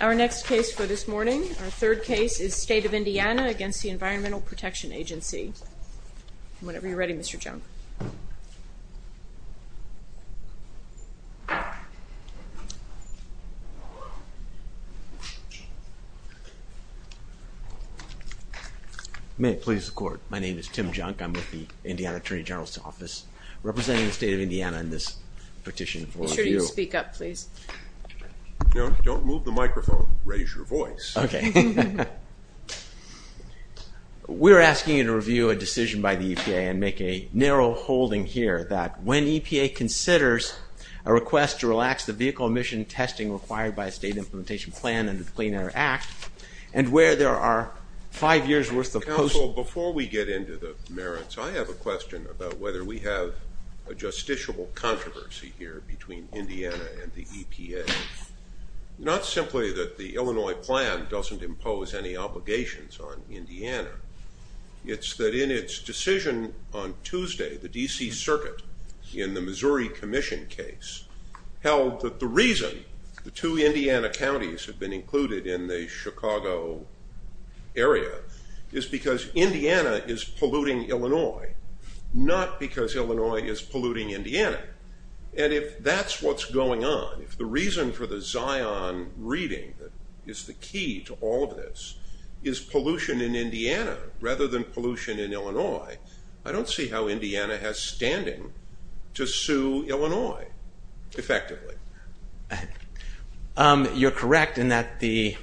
Our next case for this morning, our third case, is State of Indiana against the Environmental Protection Agency. Whenever you're ready, Mr. Junk. May it please the court. My name is Tim Junk. I'm with the Indiana Attorney General's office, representing the state of Indiana in this petition for a view. Speak up please. No, don't move the microphone. Raise your voice. Okay. We're asking you to review a decision by the EPA and make a narrow holding here that when EPA considers a request to relax the vehicle emission testing required by a state implementation plan under the Clean Air Act and where there are five years worth of... Counsel, before we get into the merits, I have a question about whether we have a justiciable controversy here between Indiana and the EPA. Not simply that the Illinois plan doesn't impose any obligations on Indiana. It's that in its decision on Tuesday, the DC Circuit in the Missouri Commission case held that the reason the two Indiana counties have been included in the Chicago area is because Indiana is polluting Illinois, not because Illinois is polluting Indiana. And if that's what's going on, if the reason for the Zion reading that is the key to all of this is pollution in Indiana rather than pollution in Illinois, I don't see how Indiana has standing to sue Illinois effectively. You're correct in that the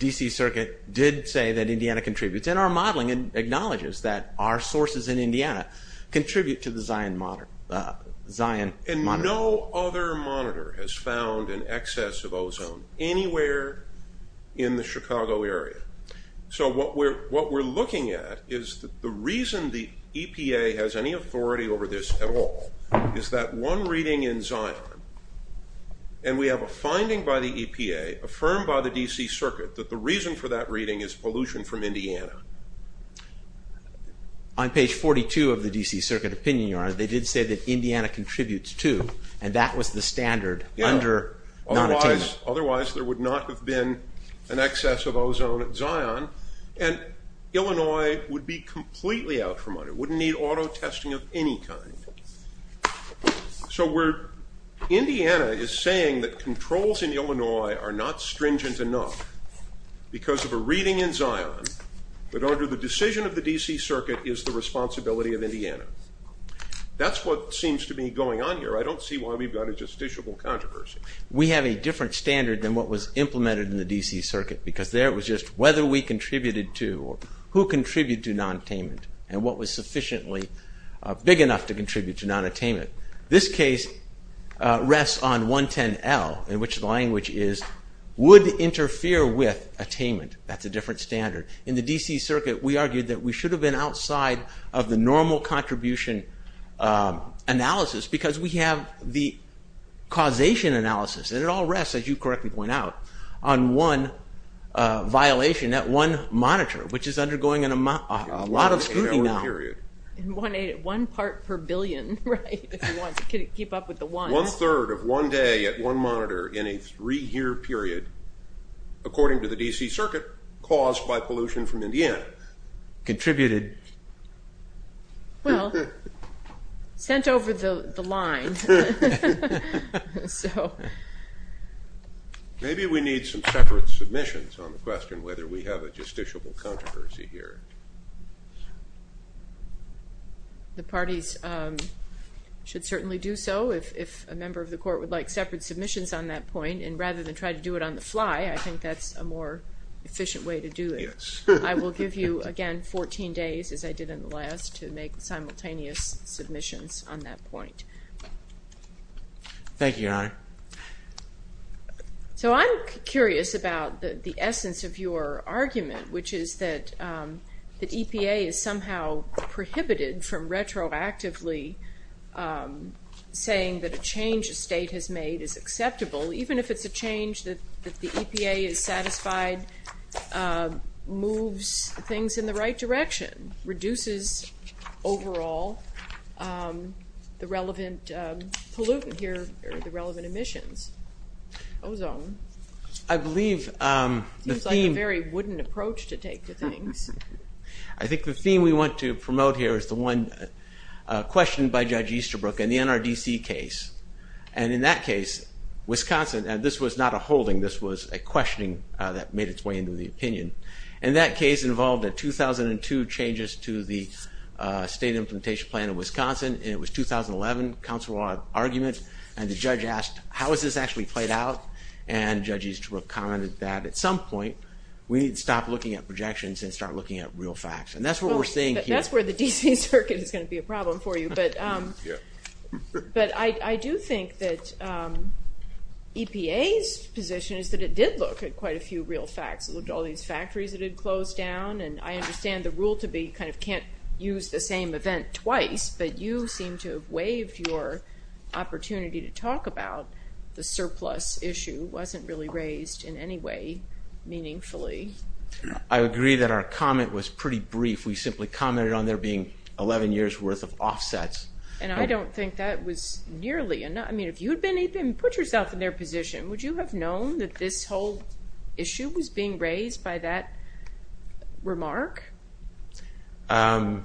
DC Circuit did say that Indiana contributes, and our modeling acknowledges that our sources in Indiana contribute to the Zion monitor. And no other monitor has found an excess of ozone anywhere in the Chicago area. So what we're looking at is that the reason the EPA has any authority over this at all is that one reading in Zion, and we have a finding by the EPA, affirmed by the DC Circuit, that the reason for that reading is pollution from Indiana. On page 42 of the DC Circuit opinion, Your Honor, they did say that Indiana contributes too, and that was the standard under non-attainment. Otherwise there would not have been an excess of ozone at all. It would be completely out from under, wouldn't need auto testing of any kind. So we're, Indiana is saying that controls in Illinois are not stringent enough because of a reading in Zion, that under the decision of the DC Circuit is the responsibility of Indiana. That's what seems to be going on here. I don't see why we've got a justiciable controversy. We have a different standard than what was implemented in the DC Circuit, because there it was just whether we contributed to non-attainment, and what was sufficiently big enough to contribute to non-attainment. This case rests on 110L, in which the language is, would interfere with attainment. That's a different standard. In the DC Circuit, we argued that we should have been outside of the normal contribution analysis, because we have the causation analysis, and it all rests, as you correctly point out, on one violation at one monitor, which is undergoing a lot of scrutiny now. One part per billion, right? If you want to keep up with the ones. One-third of one day at one monitor in a three-year period, according to the DC Circuit, caused by pollution from Indiana. Contributed. Well, sent over the line. Maybe we need some separate submissions on the question, whether we have a justiciable controversy here. The parties should certainly do so, if a member of the court would like separate submissions on that point, and rather than try to do it on the fly, I think that's a more efficient way to do it. I will give you, again, 14 days, as I did in the last, to make simultaneous submissions on that point. Thank you, Your Honor. So, I'm curious about the essence of your argument, which is that the EPA is somehow prohibited from retroactively saying that a change a state has made is acceptable, even if it's a change that the EPA is satisfied moves things in the right direction. I think the theme we want to promote here is the one question by Judge Easterbrook in the NRDC case. And in that case, Wisconsin, and this was not a holding, this was a questioning that made its way into the opinion, and that case involved a 2002 changes to the state implementation plan in Wisconsin, and it was 2011 council argument, and the judge asked, how is this actually played out? And Judge Easterbrook commented that, at some point, we need to stop looking at projections and start looking at real facts. And that's what we're saying here. That's where the DC Circuit is going to be a problem for you, but I do think that EPA's position is that it did look at quite a few real facts. It looked at all these factories that had closed down, and I understand the use the same event twice, but you seem to have waived your opportunity to talk about the surplus issue. It wasn't really raised in any way meaningfully. I agree that our comment was pretty brief. We simply commented on there being 11 years worth of offsets. And I don't think that was nearly enough. I mean, if you had been able to put yourself in their position, would you have known that this whole issue was being raised by that remark? I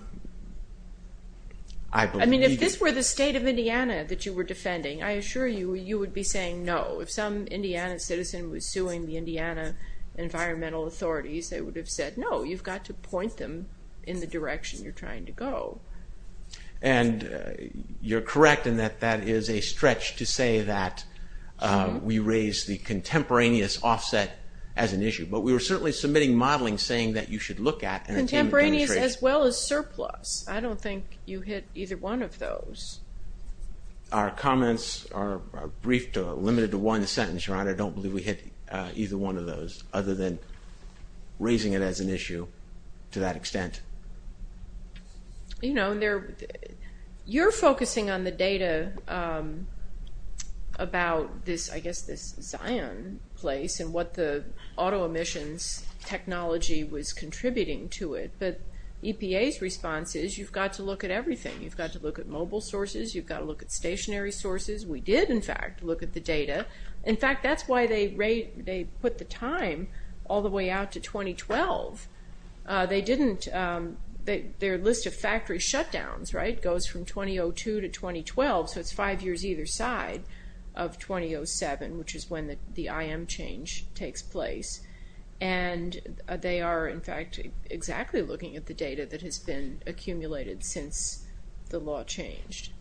mean, if this were the state of Indiana that you were defending, I assure you, you would be saying no. If some Indiana citizen was suing the Indiana environmental authorities, they would have said, no, you've got to point them in the direction you're trying to go. And you're correct in that that is a stretch to say that we raise the contemporaneous offset as an issue. But we were certainly submitting modeling saying that you should look at contemporaneous as well as surplus. I don't think you hit either one of those. Our comments are briefed or limited to one sentence, Your Honor. I don't believe we hit either one of those other than raising it as an issue to that extent. You know, you're focusing on the data about this, I and what the auto emissions technology was contributing to it. But EPA's response is, you've got to look at everything. You've got to look at mobile sources. You've got to look at stationary sources. We did, in fact, look at the data. In fact, that's why they put the time all the way out to 2012. They didn't, their list of factory shutdowns, right, goes from 2002 to 2012. So it's five years either side of 2007, which is when the IM change takes place. And they are, in fact, exactly looking at the data that has been accumulated since the law changed.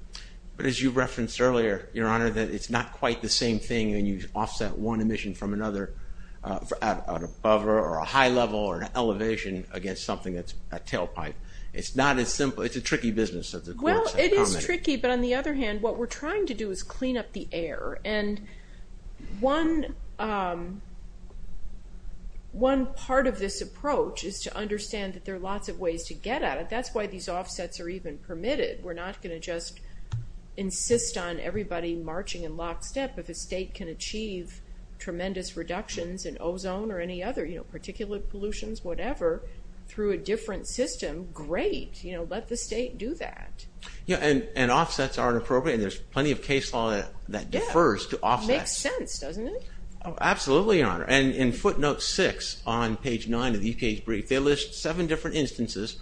But as you referenced earlier, Your Honor, that it's not quite the same thing when you offset one emission from another at an above or a high level or an elevation against something that's a tailpipe. It's not as tricky, but on the other hand, what we're trying to do is clean up the air. And one part of this approach is to understand that there are lots of ways to get at it. That's why these offsets are even permitted. We're not going to just insist on everybody marching in lockstep. If a state can achieve tremendous reductions in ozone or any other, you know, particulate pollutions, whatever, through a offset. And offsets are appropriate and there's plenty of case law that defers to offsets. It makes sense, doesn't it? Absolutely, Your Honor. And in footnote six on page nine of the UK's brief, they list seven different instances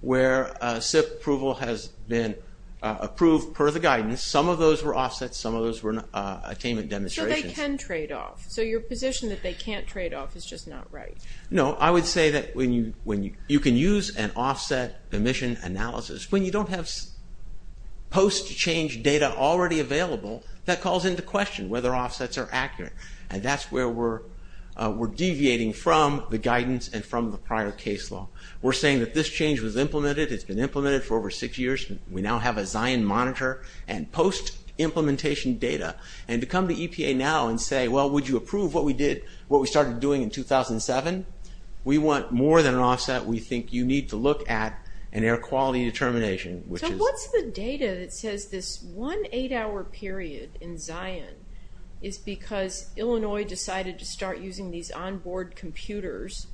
where SIP approval has been approved per the guidance. Some of those were offsets, some of those were attainment demonstrations. So they can trade off. So your position that they can't trade off is just not right. No, I would say that when you can use an post-change data already available, that calls into question whether offsets are accurate. And that's where we're deviating from the guidance and from the prior case law. We're saying that this change was implemented. It's been implemented for over six years. We now have a Zion monitor and post implementation data. And to come to EPA now and say, well, would you approve what we did, what we started doing in 2007? We want more than an offset. We think you need to look at an air quality determination. So what's the data that says this one eight-hour period in Zion is because Illinois decided to start using these onboard computers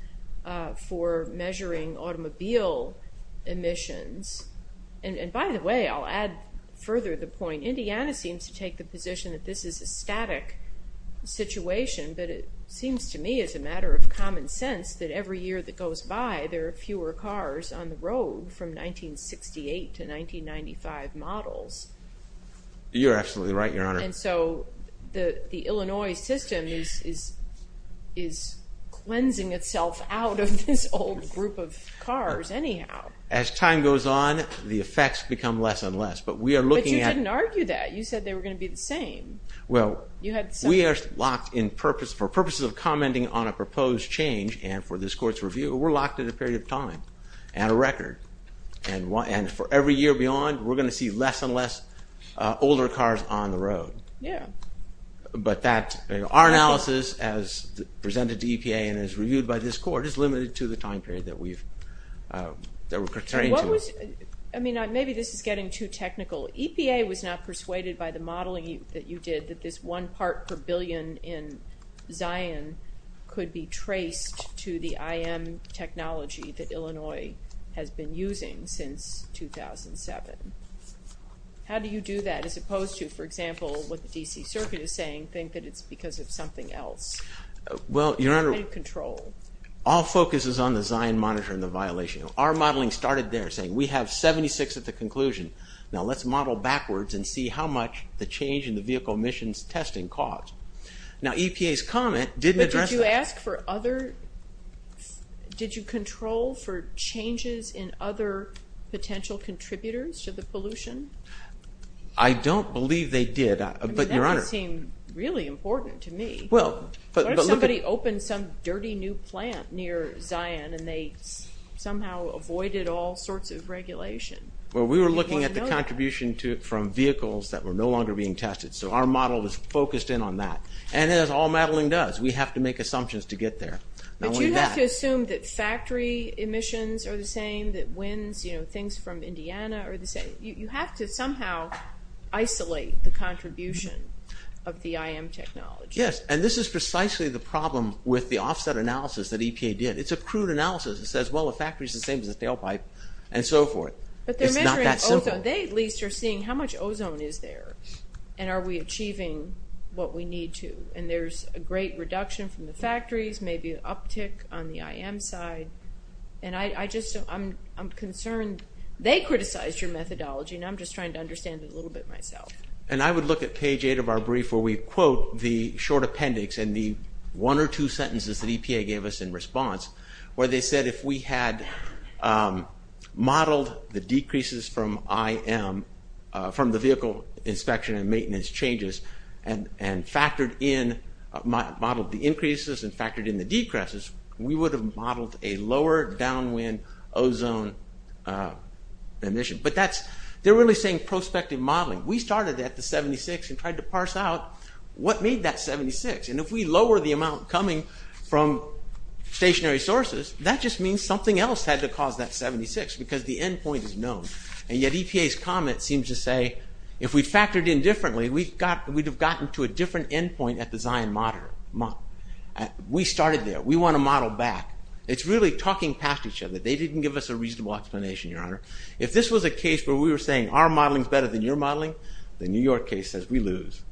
for measuring automobile emissions? And by the way, I'll add further the point, Indiana seems to take the position that this is a static situation, but it seems to me as a matter of common sense that every year that we see cars on the road from 1968 to 1995 models. You're absolutely right, Your Honor. And so the Illinois system is cleansing itself out of this old group of cars anyhow. As time goes on, the effects become less and less, but we are looking at... But you didn't argue that. You said they were going to be the same. Well, we are locked in purpose, for purposes of commenting on a proposed change and for this court's review. We're locked in a period of time and a record. And for every year beyond, we're going to see less and less older cars on the road. Yeah. But that, our analysis as presented to EPA and as reviewed by this court, is limited to the time period that we've, that we're pertaining to. I mean, maybe this is getting too technical. EPA was not persuaded by the modeling that you did that this one part per billion in Zion could be traced to the IM technology that Illinois has been using since 2007. How do you do that, as opposed to, for example, what the DC Circuit is saying, think that it's because of something else? Well, Your Honor, all focus is on the Zion monitor and the violation. Our modeling started there, saying we have 76 at the conclusion. Now EPA's comment didn't address that. But did you ask for other, did you control for changes in other potential contributors to the pollution? I don't believe they did, but Your Honor. That would seem really important to me. What if somebody opened some dirty new plant near Zion and they somehow avoided all sorts of regulation? Well, we were looking at the contribution from vehicles that were no focused in on that. And as all modeling does, we have to make assumptions to get there. But you have to assume that factory emissions are the same, that winds, you know, things from Indiana are the same. You have to somehow isolate the contribution of the IM technology. Yes, and this is precisely the problem with the offset analysis that EPA did. It's a crude analysis. It says, well, the factory's the same as the tailpipe, and so forth. But they're measuring ozone. They at least are asking, how much ozone is there? And are we achieving what we need to? And there's a great reduction from the factories, maybe an uptick on the IM side. And I just, I'm concerned they criticized your methodology, and I'm just trying to understand it a little bit myself. And I would look at page 8 of our brief where we quote the short appendix and the one or two sentences that EPA gave us in response, where they said if we had modeled the decreases from IM, from the vehicle inspection and maintenance changes, and factored in, modeled the increases and factored in the decreases, we would have modeled a lower downwind ozone emission. But that's, they're really saying prospective modeling. We started at the 76 and tried to parse out what made that 76. And if we lower the amount coming from stationary sources, that just means something else had to cause that 76, because the endpoint is known. And yet EPA's comment seems to say if we factored in differently, we'd have gotten to a different endpoint at the Zion monitor. We started there. We want to model back. It's really talking past each other. They didn't give us a reasonable explanation, Your Honor. If this was a case where we were saying our modeling is better than your modeling, the New York case says we lose.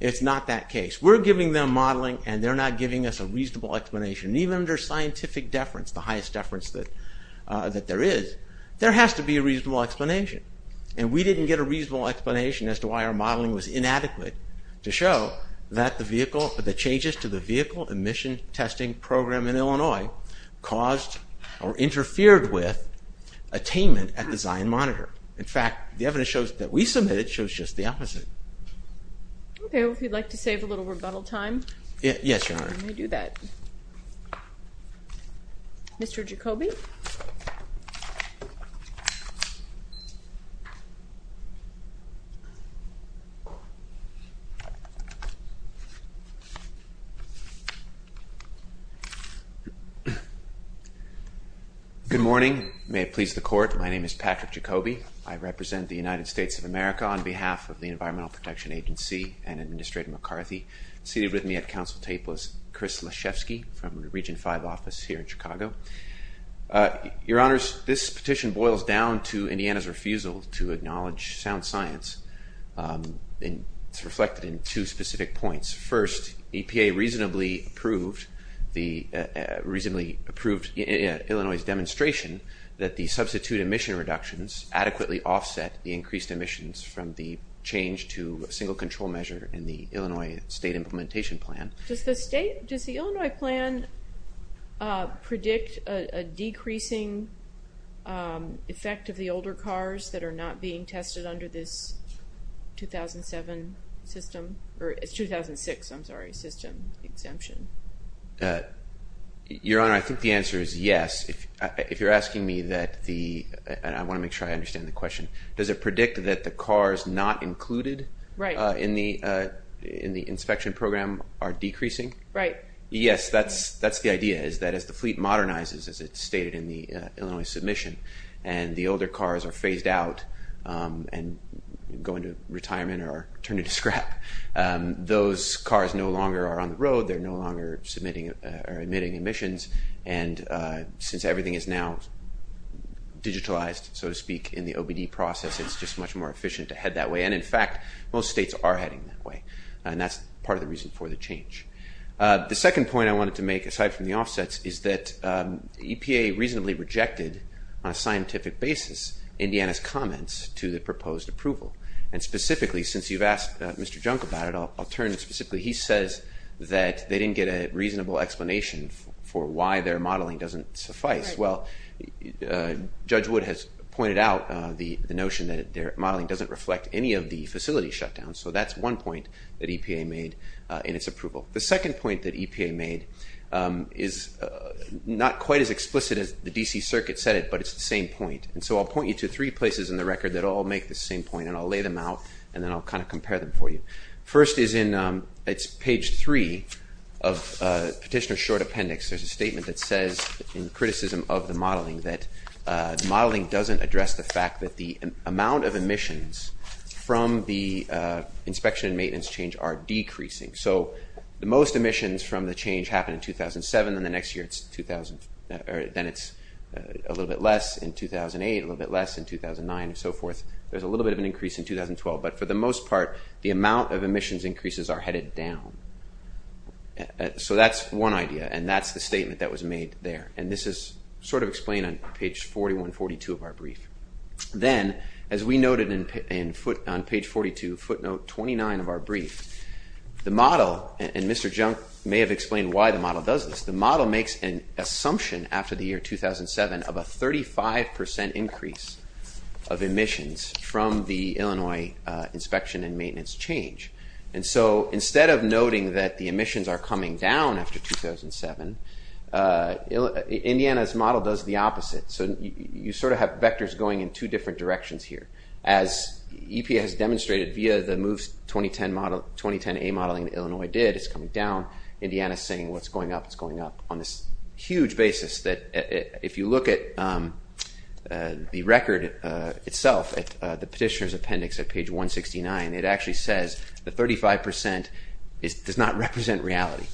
It's not that case. We're giving them modeling, and they're not giving us a reasonable explanation. Even under scientific deference, the highest deference that there is, there has to be a reasonable explanation. And we didn't get a reasonable explanation as to why our modeling was inadequate to show that the changes to the vehicle emission testing program in Illinois caused or interfered with attainment at the Zion monitor. In fact, the evidence that we submitted shows just the opposite. Okay. Well, if you'd like to save a little rebuttal time. Yes, Your Honor. Let me do that. Mr. Jacoby? Good morning. May it please the Court, my name is Patrick Jacoby. I represent the United States Environmental Protection Agency and Administrator McCarthy. Seated with me at Council Table is Chris Leshefsky from the Region 5 office here in Chicago. Your Honors, this petition boils down to Indiana's refusal to acknowledge sound science. It's reflected in two specific points. First, EPA reasonably approved Illinois' demonstration that the Illinois state implementation plan. Does the Illinois plan predict a decreasing effect of the older cars that are not being tested under this 2006 system exemption? Your Honor, I think the answer is yes. I want to make sure I understand the question. Does it predict that the cars not included in the inspection program are decreasing? Right. Yes, that's the idea, is that as the fleet modernizes, as it's stated in the Illinois submission, and the older cars are phased out and go into retirement or are turned into scrap, those cars no longer are on the road, they're no longer emitting emissions, and since everything is now digitalized, so to speak, in the OBD process, it's just much more efficient to head that way. And in fact, most states are heading that way, and that's part of the reason for the change. The second point I wanted to make, aside from the offsets, is that EPA reasonably rejected on a scientific basis Indiana's comments to the proposed approval. And specifically, since you've asked Mr. Junk about it, I'll turn to specifically, he says that they didn't get a reasonable explanation for why their modeling doesn't suffice. Well, Judge Wood has pointed out the notion that their modeling doesn't reflect any of the facility shutdowns, so that's one point that EPA made in its approval. The second point that EPA made is not quite as explicit as the D.C. Circuit said it, but it's the same point. And so I'll point you to three places in the record that all make the same point, and I'll lay them out, and then I'll kind of compare them for you. First is in, it's page three of Petitioner's Short Appendix. There's a statement that says, in criticism of the modeling, that the modeling doesn't address the fact that the amount of emissions from the inspection and maintenance change are decreasing. So the most emissions from the change happened in 2007, then the next year it's 2000, or then it's a little bit less in 2008, a little bit less in 2009, and so forth. There's a little bit of an increase in 2012, but for the most part, the amount of emissions increases are headed down. So that's one idea, and that's the statement that was made there. And this is sort of explained on page 41, 42 of our brief. Then, as we noted on page 42, footnote 29 of our brief, the model, and Mr. Junk may have explained why the model does this, the model makes an assumption after the year 2007 of a 35% increase of emissions from the Illinois inspection and maintenance change. And so instead of noting that the emissions are coming down after 2007, Indiana's model does the opposite. So you sort of have vectors going in two different directions here. As EPA has demonstrated via the MOVES 2010A modeling that Illinois did, it's coming down, Indiana's saying what's going up, it's going up, on this huge basis that if you look at the record itself, at the petitioner's appendix at page 169, it actually says the 35% does not represent reality.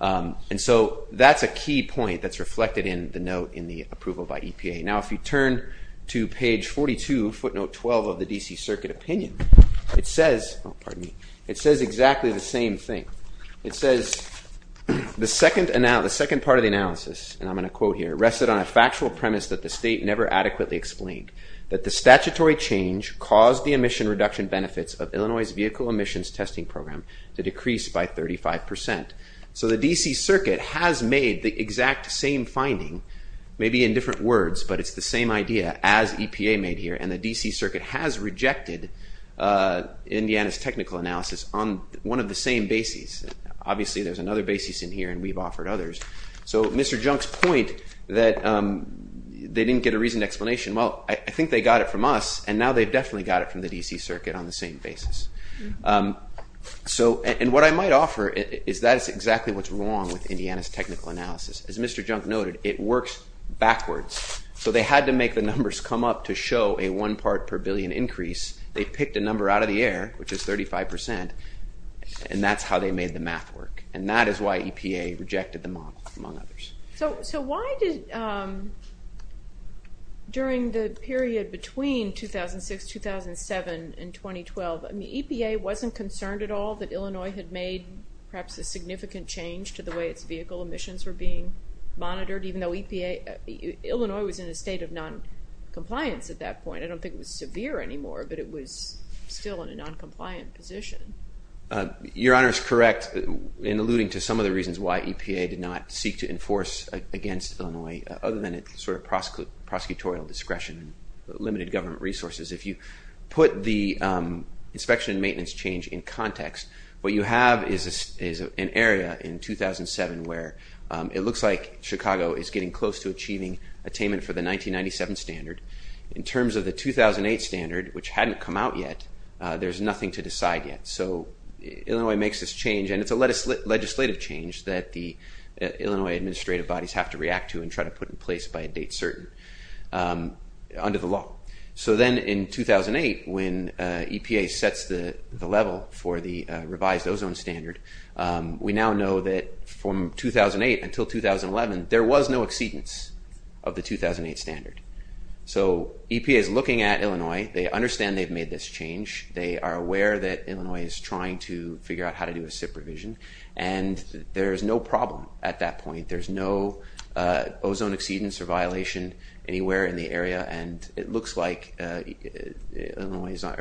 And so that's a key point that's reflected in the note in the approval by EPA. Now if you turn to page 42, footnote 12 of the D.C. It says, the second part of the analysis, and I'm going to quote here, rested on a factual premise that the state never adequately explained, that the statutory change caused the emission reduction benefits of Illinois' vehicle emissions testing program to decrease by 35%. So the D.C. Circuit has made the exact same finding, maybe in different words, but it's the same idea as EPA made here, and the D.C. Circuit has rejected Indiana's technical analysis on one of the same bases. Obviously there's another basis in here and we've offered others. So Mr. Junk's point that they didn't get a reasoned explanation, well, I think they got it from us, and now they've definitely got it from the D.C. Circuit on the same basis. And what I might offer is that's exactly what's wrong with Indiana's technical analysis. As Mr. Junk noted, it works backwards. So they had to make the numbers come up to show a one part per billion increase. They picked a number out of the air, which is 35%, and that's how they made the math work. And that is why EPA rejected the model, among others. So why did, during the period between 2006, 2007, and 2012, I mean, EPA wasn't concerned at all that Illinois had made perhaps a significant change to the way its vehicle emissions were being monitored, even though EPA, Illinois was in a state of noncompliance at that point. I don't think it was severe anymore, but it was still in a noncompliant position. Your Honor is correct in alluding to some of the reasons why EPA did not seek to enforce against Illinois, other than its sort of prosecutorial discretion, limited government resources. If you put the inspection and maintenance change in context, what you have is an area in 2007 where it looks like Chicago is getting close to achieving attainment for the 1997 standard. In terms of the 2008 standard, which hadn't come out yet, there's nothing to decide yet. So Illinois makes this change, and it's a legislative change that the Illinois administrative bodies have to react to and try to put in place by a date certain under the law. So then in 2008, when EPA sets the level for the revised ozone standard, we now know that from 2008 until 2011, there was no exceedance of the 2008 standard. So EPA is looking at Illinois. They understand they've made this change. They are aware that Illinois is trying to figure out how to do a SIP revision, and there is no problem at that point. There's no ozone exceedance or violation anywhere in the area, and it looks like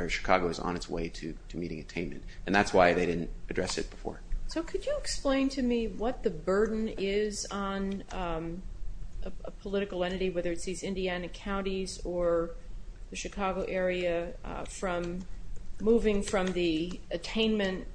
Chicago is on its way to meeting attainment, and that's why they didn't address it before. So could you explain to me what the burden is on a political entity, whether it's these Indiana counties or the Chicago area, moving from the attainment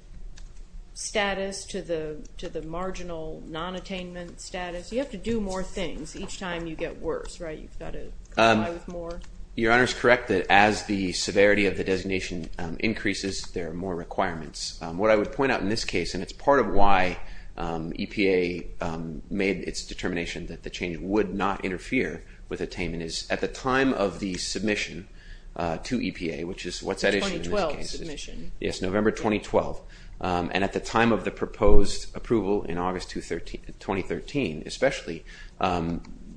status to the marginal non-attainment status? You have to do more things each time you get worse, right? You've got to comply with more? Your Honor is correct that as the severity of the designation increases, there are more requirements. What I would point out in this case, and it's part of why EPA made its determination that the change would not interfere with attainment, is at the time of the submission to EPA, which is what's that issue in this case? The 2012 submission. Yes, November 2012, and at the time of the proposed approval in August 2013, especially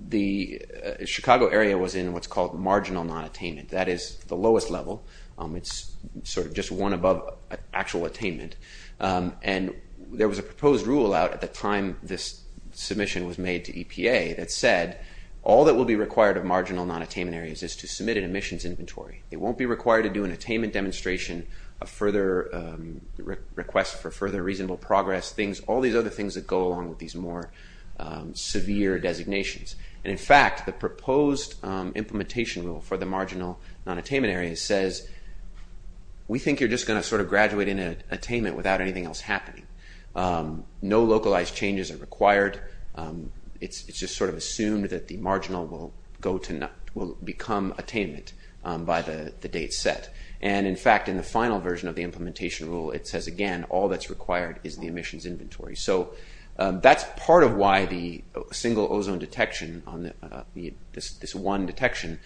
the Chicago area was in what's called marginal non-attainment. That is the lowest level. It's sort of just one above actual attainment, and there was a proposed rule out at the time this submission was made to EPA that said all that will be required of marginal non-attainment areas is to submit an admissions inventory. It won't be required to do an attainment demonstration, a further request for further reasonable progress, all these other things that go along with these more severe designations. In fact, the proposed implementation rule for the marginal non-attainment areas says we think you're just going to sort of graduate in an attainment without anything else happening. No localized changes are required. It's just sort of assumed that the marginal will become attainment by the date set. In fact, in the final version of the implementation rule, it says, again, all that's required is the admissions inventory. That's part of why the single ozone detection, this one detection,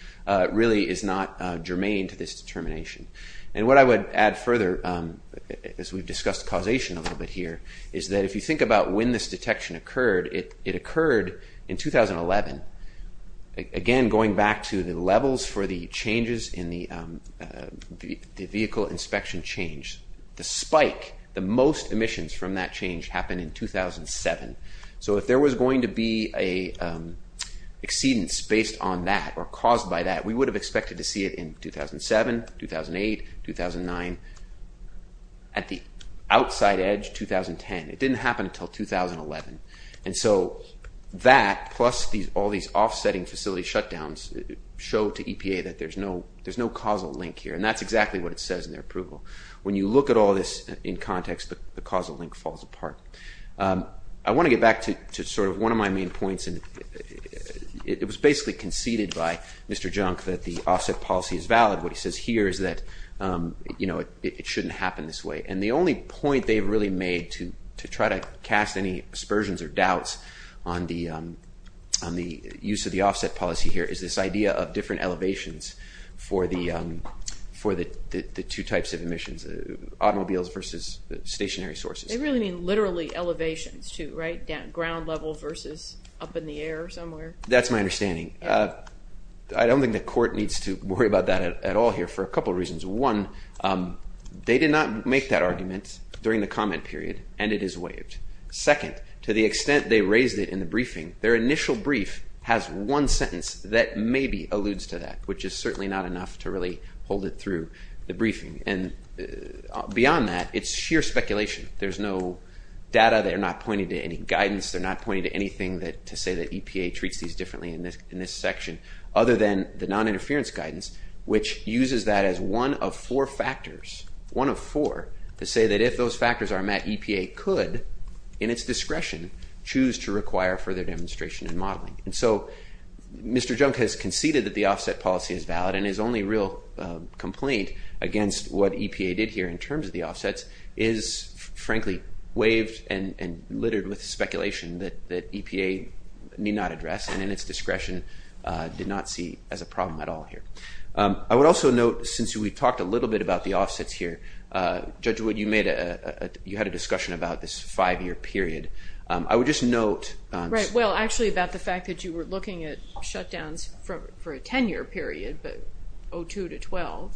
really is not germane to this determination. What I would add further, as we've discussed causation a little bit here, is that if you think about when this detection occurred, it occurred in 2011. Again, going back to the levels for the changes in the vehicle inspection change, the spike, the most emissions from that change happened in 2007. So if there was going to be an exceedance based on that or caused by that, we would have expected to see it in 2007, 2008, 2009. At the outside edge, 2010. It didn't happen until 2011. And so that plus all these offsetting facility shutdowns show to EPA that there's no causal link here. And that's exactly what it says in their approval. When you look at all this in context, the causal link falls apart. I want to get back to sort of one of my main points. It was basically conceded by Mr. Junk that the offset policy is valid. What he says here is that it shouldn't happen this way. And the only point they've really made to try to cast any aspersions or doubts on the use of the offset policy here is this idea of different elevations for the two types of emissions, automobiles versus stationary sources. They really mean literally elevations too, right? Ground level versus up in the air somewhere. That's my understanding. I don't think the court needs to worry about that at all here for a couple of reasons. One, they did not make that argument during the comment period, and it is waived. Second, to the extent they raised it in the briefing, their initial brief has one sentence that maybe alludes to that, which is certainly not enough to really hold it through the briefing. And beyond that, it's sheer speculation. There's no data. They're not pointing to any guidance. They're not pointing to anything to say that EPA treats these differently in this section, other than the noninterference guidance, which uses that as one of four factors, to say that if those factors are met, EPA could, in its discretion, choose to require further demonstration and modeling. And so Mr. Junk has conceded that the offset policy is valid, and his only real complaint against what EPA did here in terms of the offsets is, frankly, waived and littered with speculation that EPA need not address, and in its discretion did not see as a problem at all here. I would also note, since we've talked a little bit about the offsets here, Judge Wood, you had a discussion about this five-year period. I would just note. Right. Well, actually about the fact that you were looking at shutdowns for a 10-year period, but 02 to 12.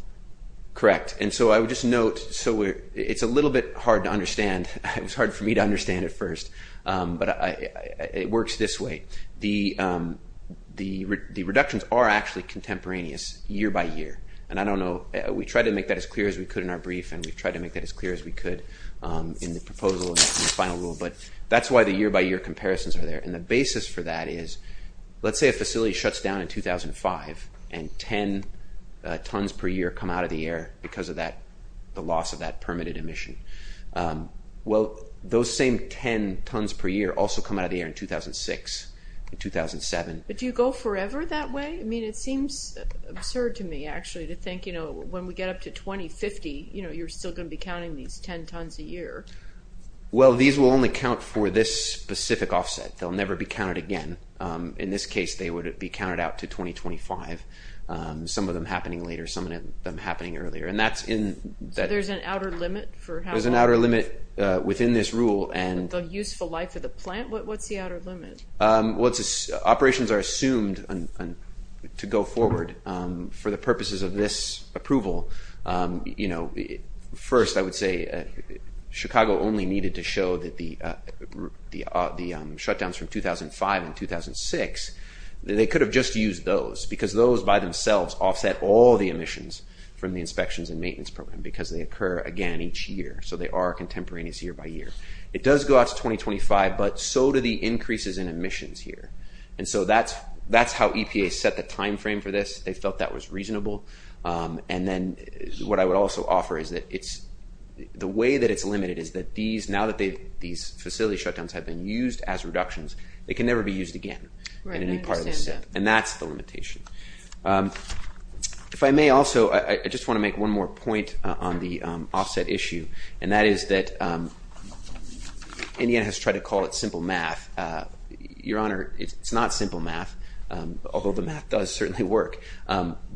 Correct. And so I would just note, so it's a little bit hard to understand. It was hard for me to understand at first, but it works this way. The reductions are actually contemporaneous year by year. And I don't know. We tried to make that as clear as we could in our brief, and we've tried to make that as clear as we could in the proposal and the final rule, but that's why the year-by-year comparisons are there. And the basis for that is, let's say a facility shuts down in 2005 and 10 tons per year come out of the air because of the loss of that permitted emission. Well, those same 10 tons per year also come out of the air in 2006 and 2007. But do you go forever that way? I mean, it seems absurd to me, actually, to think when we get up to 2050, you're still going to be counting these 10 tons a year. Well, these will only count for this specific offset. They'll never be counted again. In this case, they would be counted out to 2025, some of them happening later, some of them happening earlier. So there's an outer limit for how long? There's an outer limit within this rule. The useful life of the plant? What's the outer limit? Operations are assumed to go forward for the purposes of this approval. First, I would say Chicago only needed to show that the shutdowns from 2005 and 2006, they could have just used those because those by themselves offset all the emissions from the inspections and maintenance program because they occur, again, each year. So they are contemporaneous year by year. It does go out to 2025, but so do the increases in emissions here. And so that's how EPA set the timeframe for this. They felt that was reasonable. And then what I would also offer is that the way that it's limited is that these, now that these facility shutdowns have been used as reductions, they can never be used again in any part of the set. And that's the limitation. If I may also, I just want to make one more point on the offset issue, and that is that Indiana has tried to call it simple math. Your Honor, it's not simple math, although the math does certainly work.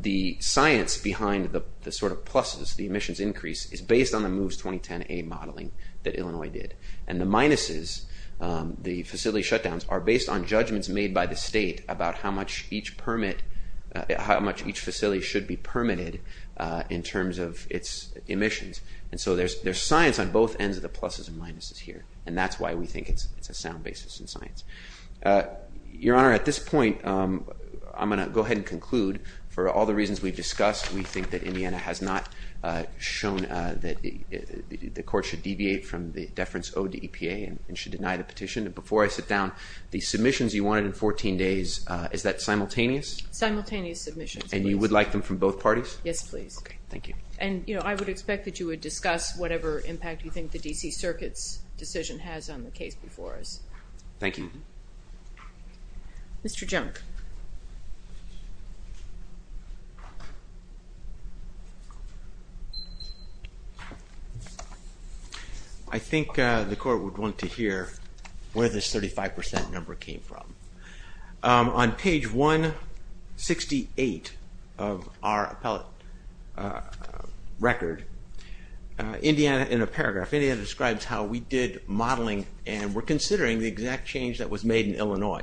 The science behind the sort of pluses, the emissions increase, is based on the MOVES 2010A modeling that Illinois did. And the minuses, the facility shutdowns, are based on judgments made by the state about how much each permit, how much each facility should be permitted in terms of its emissions. And so there's science on both ends of the pluses and minuses here, and that's why we think it's a sound basis in science. Your Honor, at this point, I'm going to go ahead and conclude. For all the reasons we've discussed, we think that Indiana has not shown that the court should deviate from the deference owed to EPA and should deny the petition. And before I sit down, the submissions you wanted in 14 days, is that simultaneous? Simultaneous submissions. And you would like them from both parties? Yes, please. Okay, thank you. And, you know, I would expect that you would discuss whatever impact you think the D.C. Circuit's decision has on the case before us. Thank you. Mr. Junk. Mr. Junk. I think the court would want to hear where this 35% number came from. On page 168 of our appellate record, Indiana, in a paragraph, Indiana describes how we did modeling and we're considering the exact change that was made in Illinois.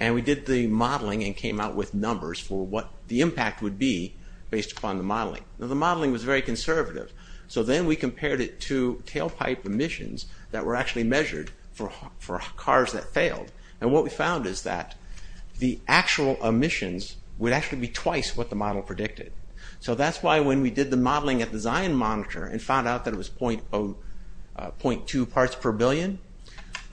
And we did the modeling and came out with numbers for what the impact would be based upon the modeling. Now the modeling was very conservative. So then we compared it to tailpipe emissions that were actually measured for cars that failed. And what we found is that the actual emissions would actually be twice what the model predicted. So that's why when we did the modeling at the Zion Monitor and found out that it was 0.2 parts per billion,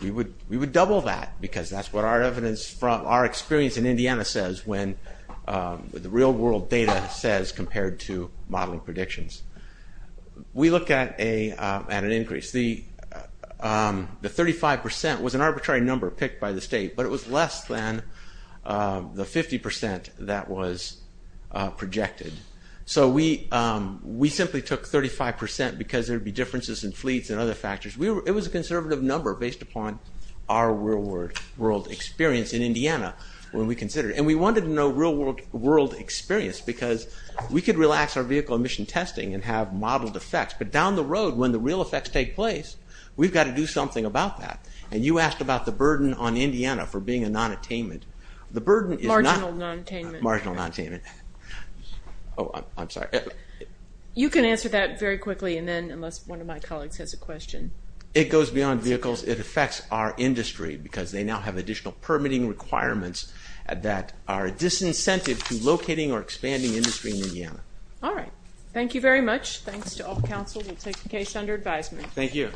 we would double that because that's what our evidence from our experience in Indiana says when the real world data says compared to modeling predictions. We look at an increase. The 35% was an arbitrary number picked by the state, but it was less than the 50% that was projected. So we simply took 35% because there would be differences in fleets and other factors. It was a conservative number based upon our real world experience in Indiana when we considered it. And we wanted to know real world experience because we could relax our vehicle emission testing and have modeled effects. But down the road when the real effects take place, we've got to do something about that. And you asked about the burden on Indiana for being a nonattainment. Marginal nonattainment. Marginal nonattainment. Oh, I'm sorry. You can answer that very quickly and then unless one of my colleagues has a question. It goes beyond vehicles. It affects our industry because they now have additional permitting requirements that are a disincentive to locating or expanding industry in Indiana. All right. Thank you very much. Thanks to all the council. We'll take the case under advisement. Thank you.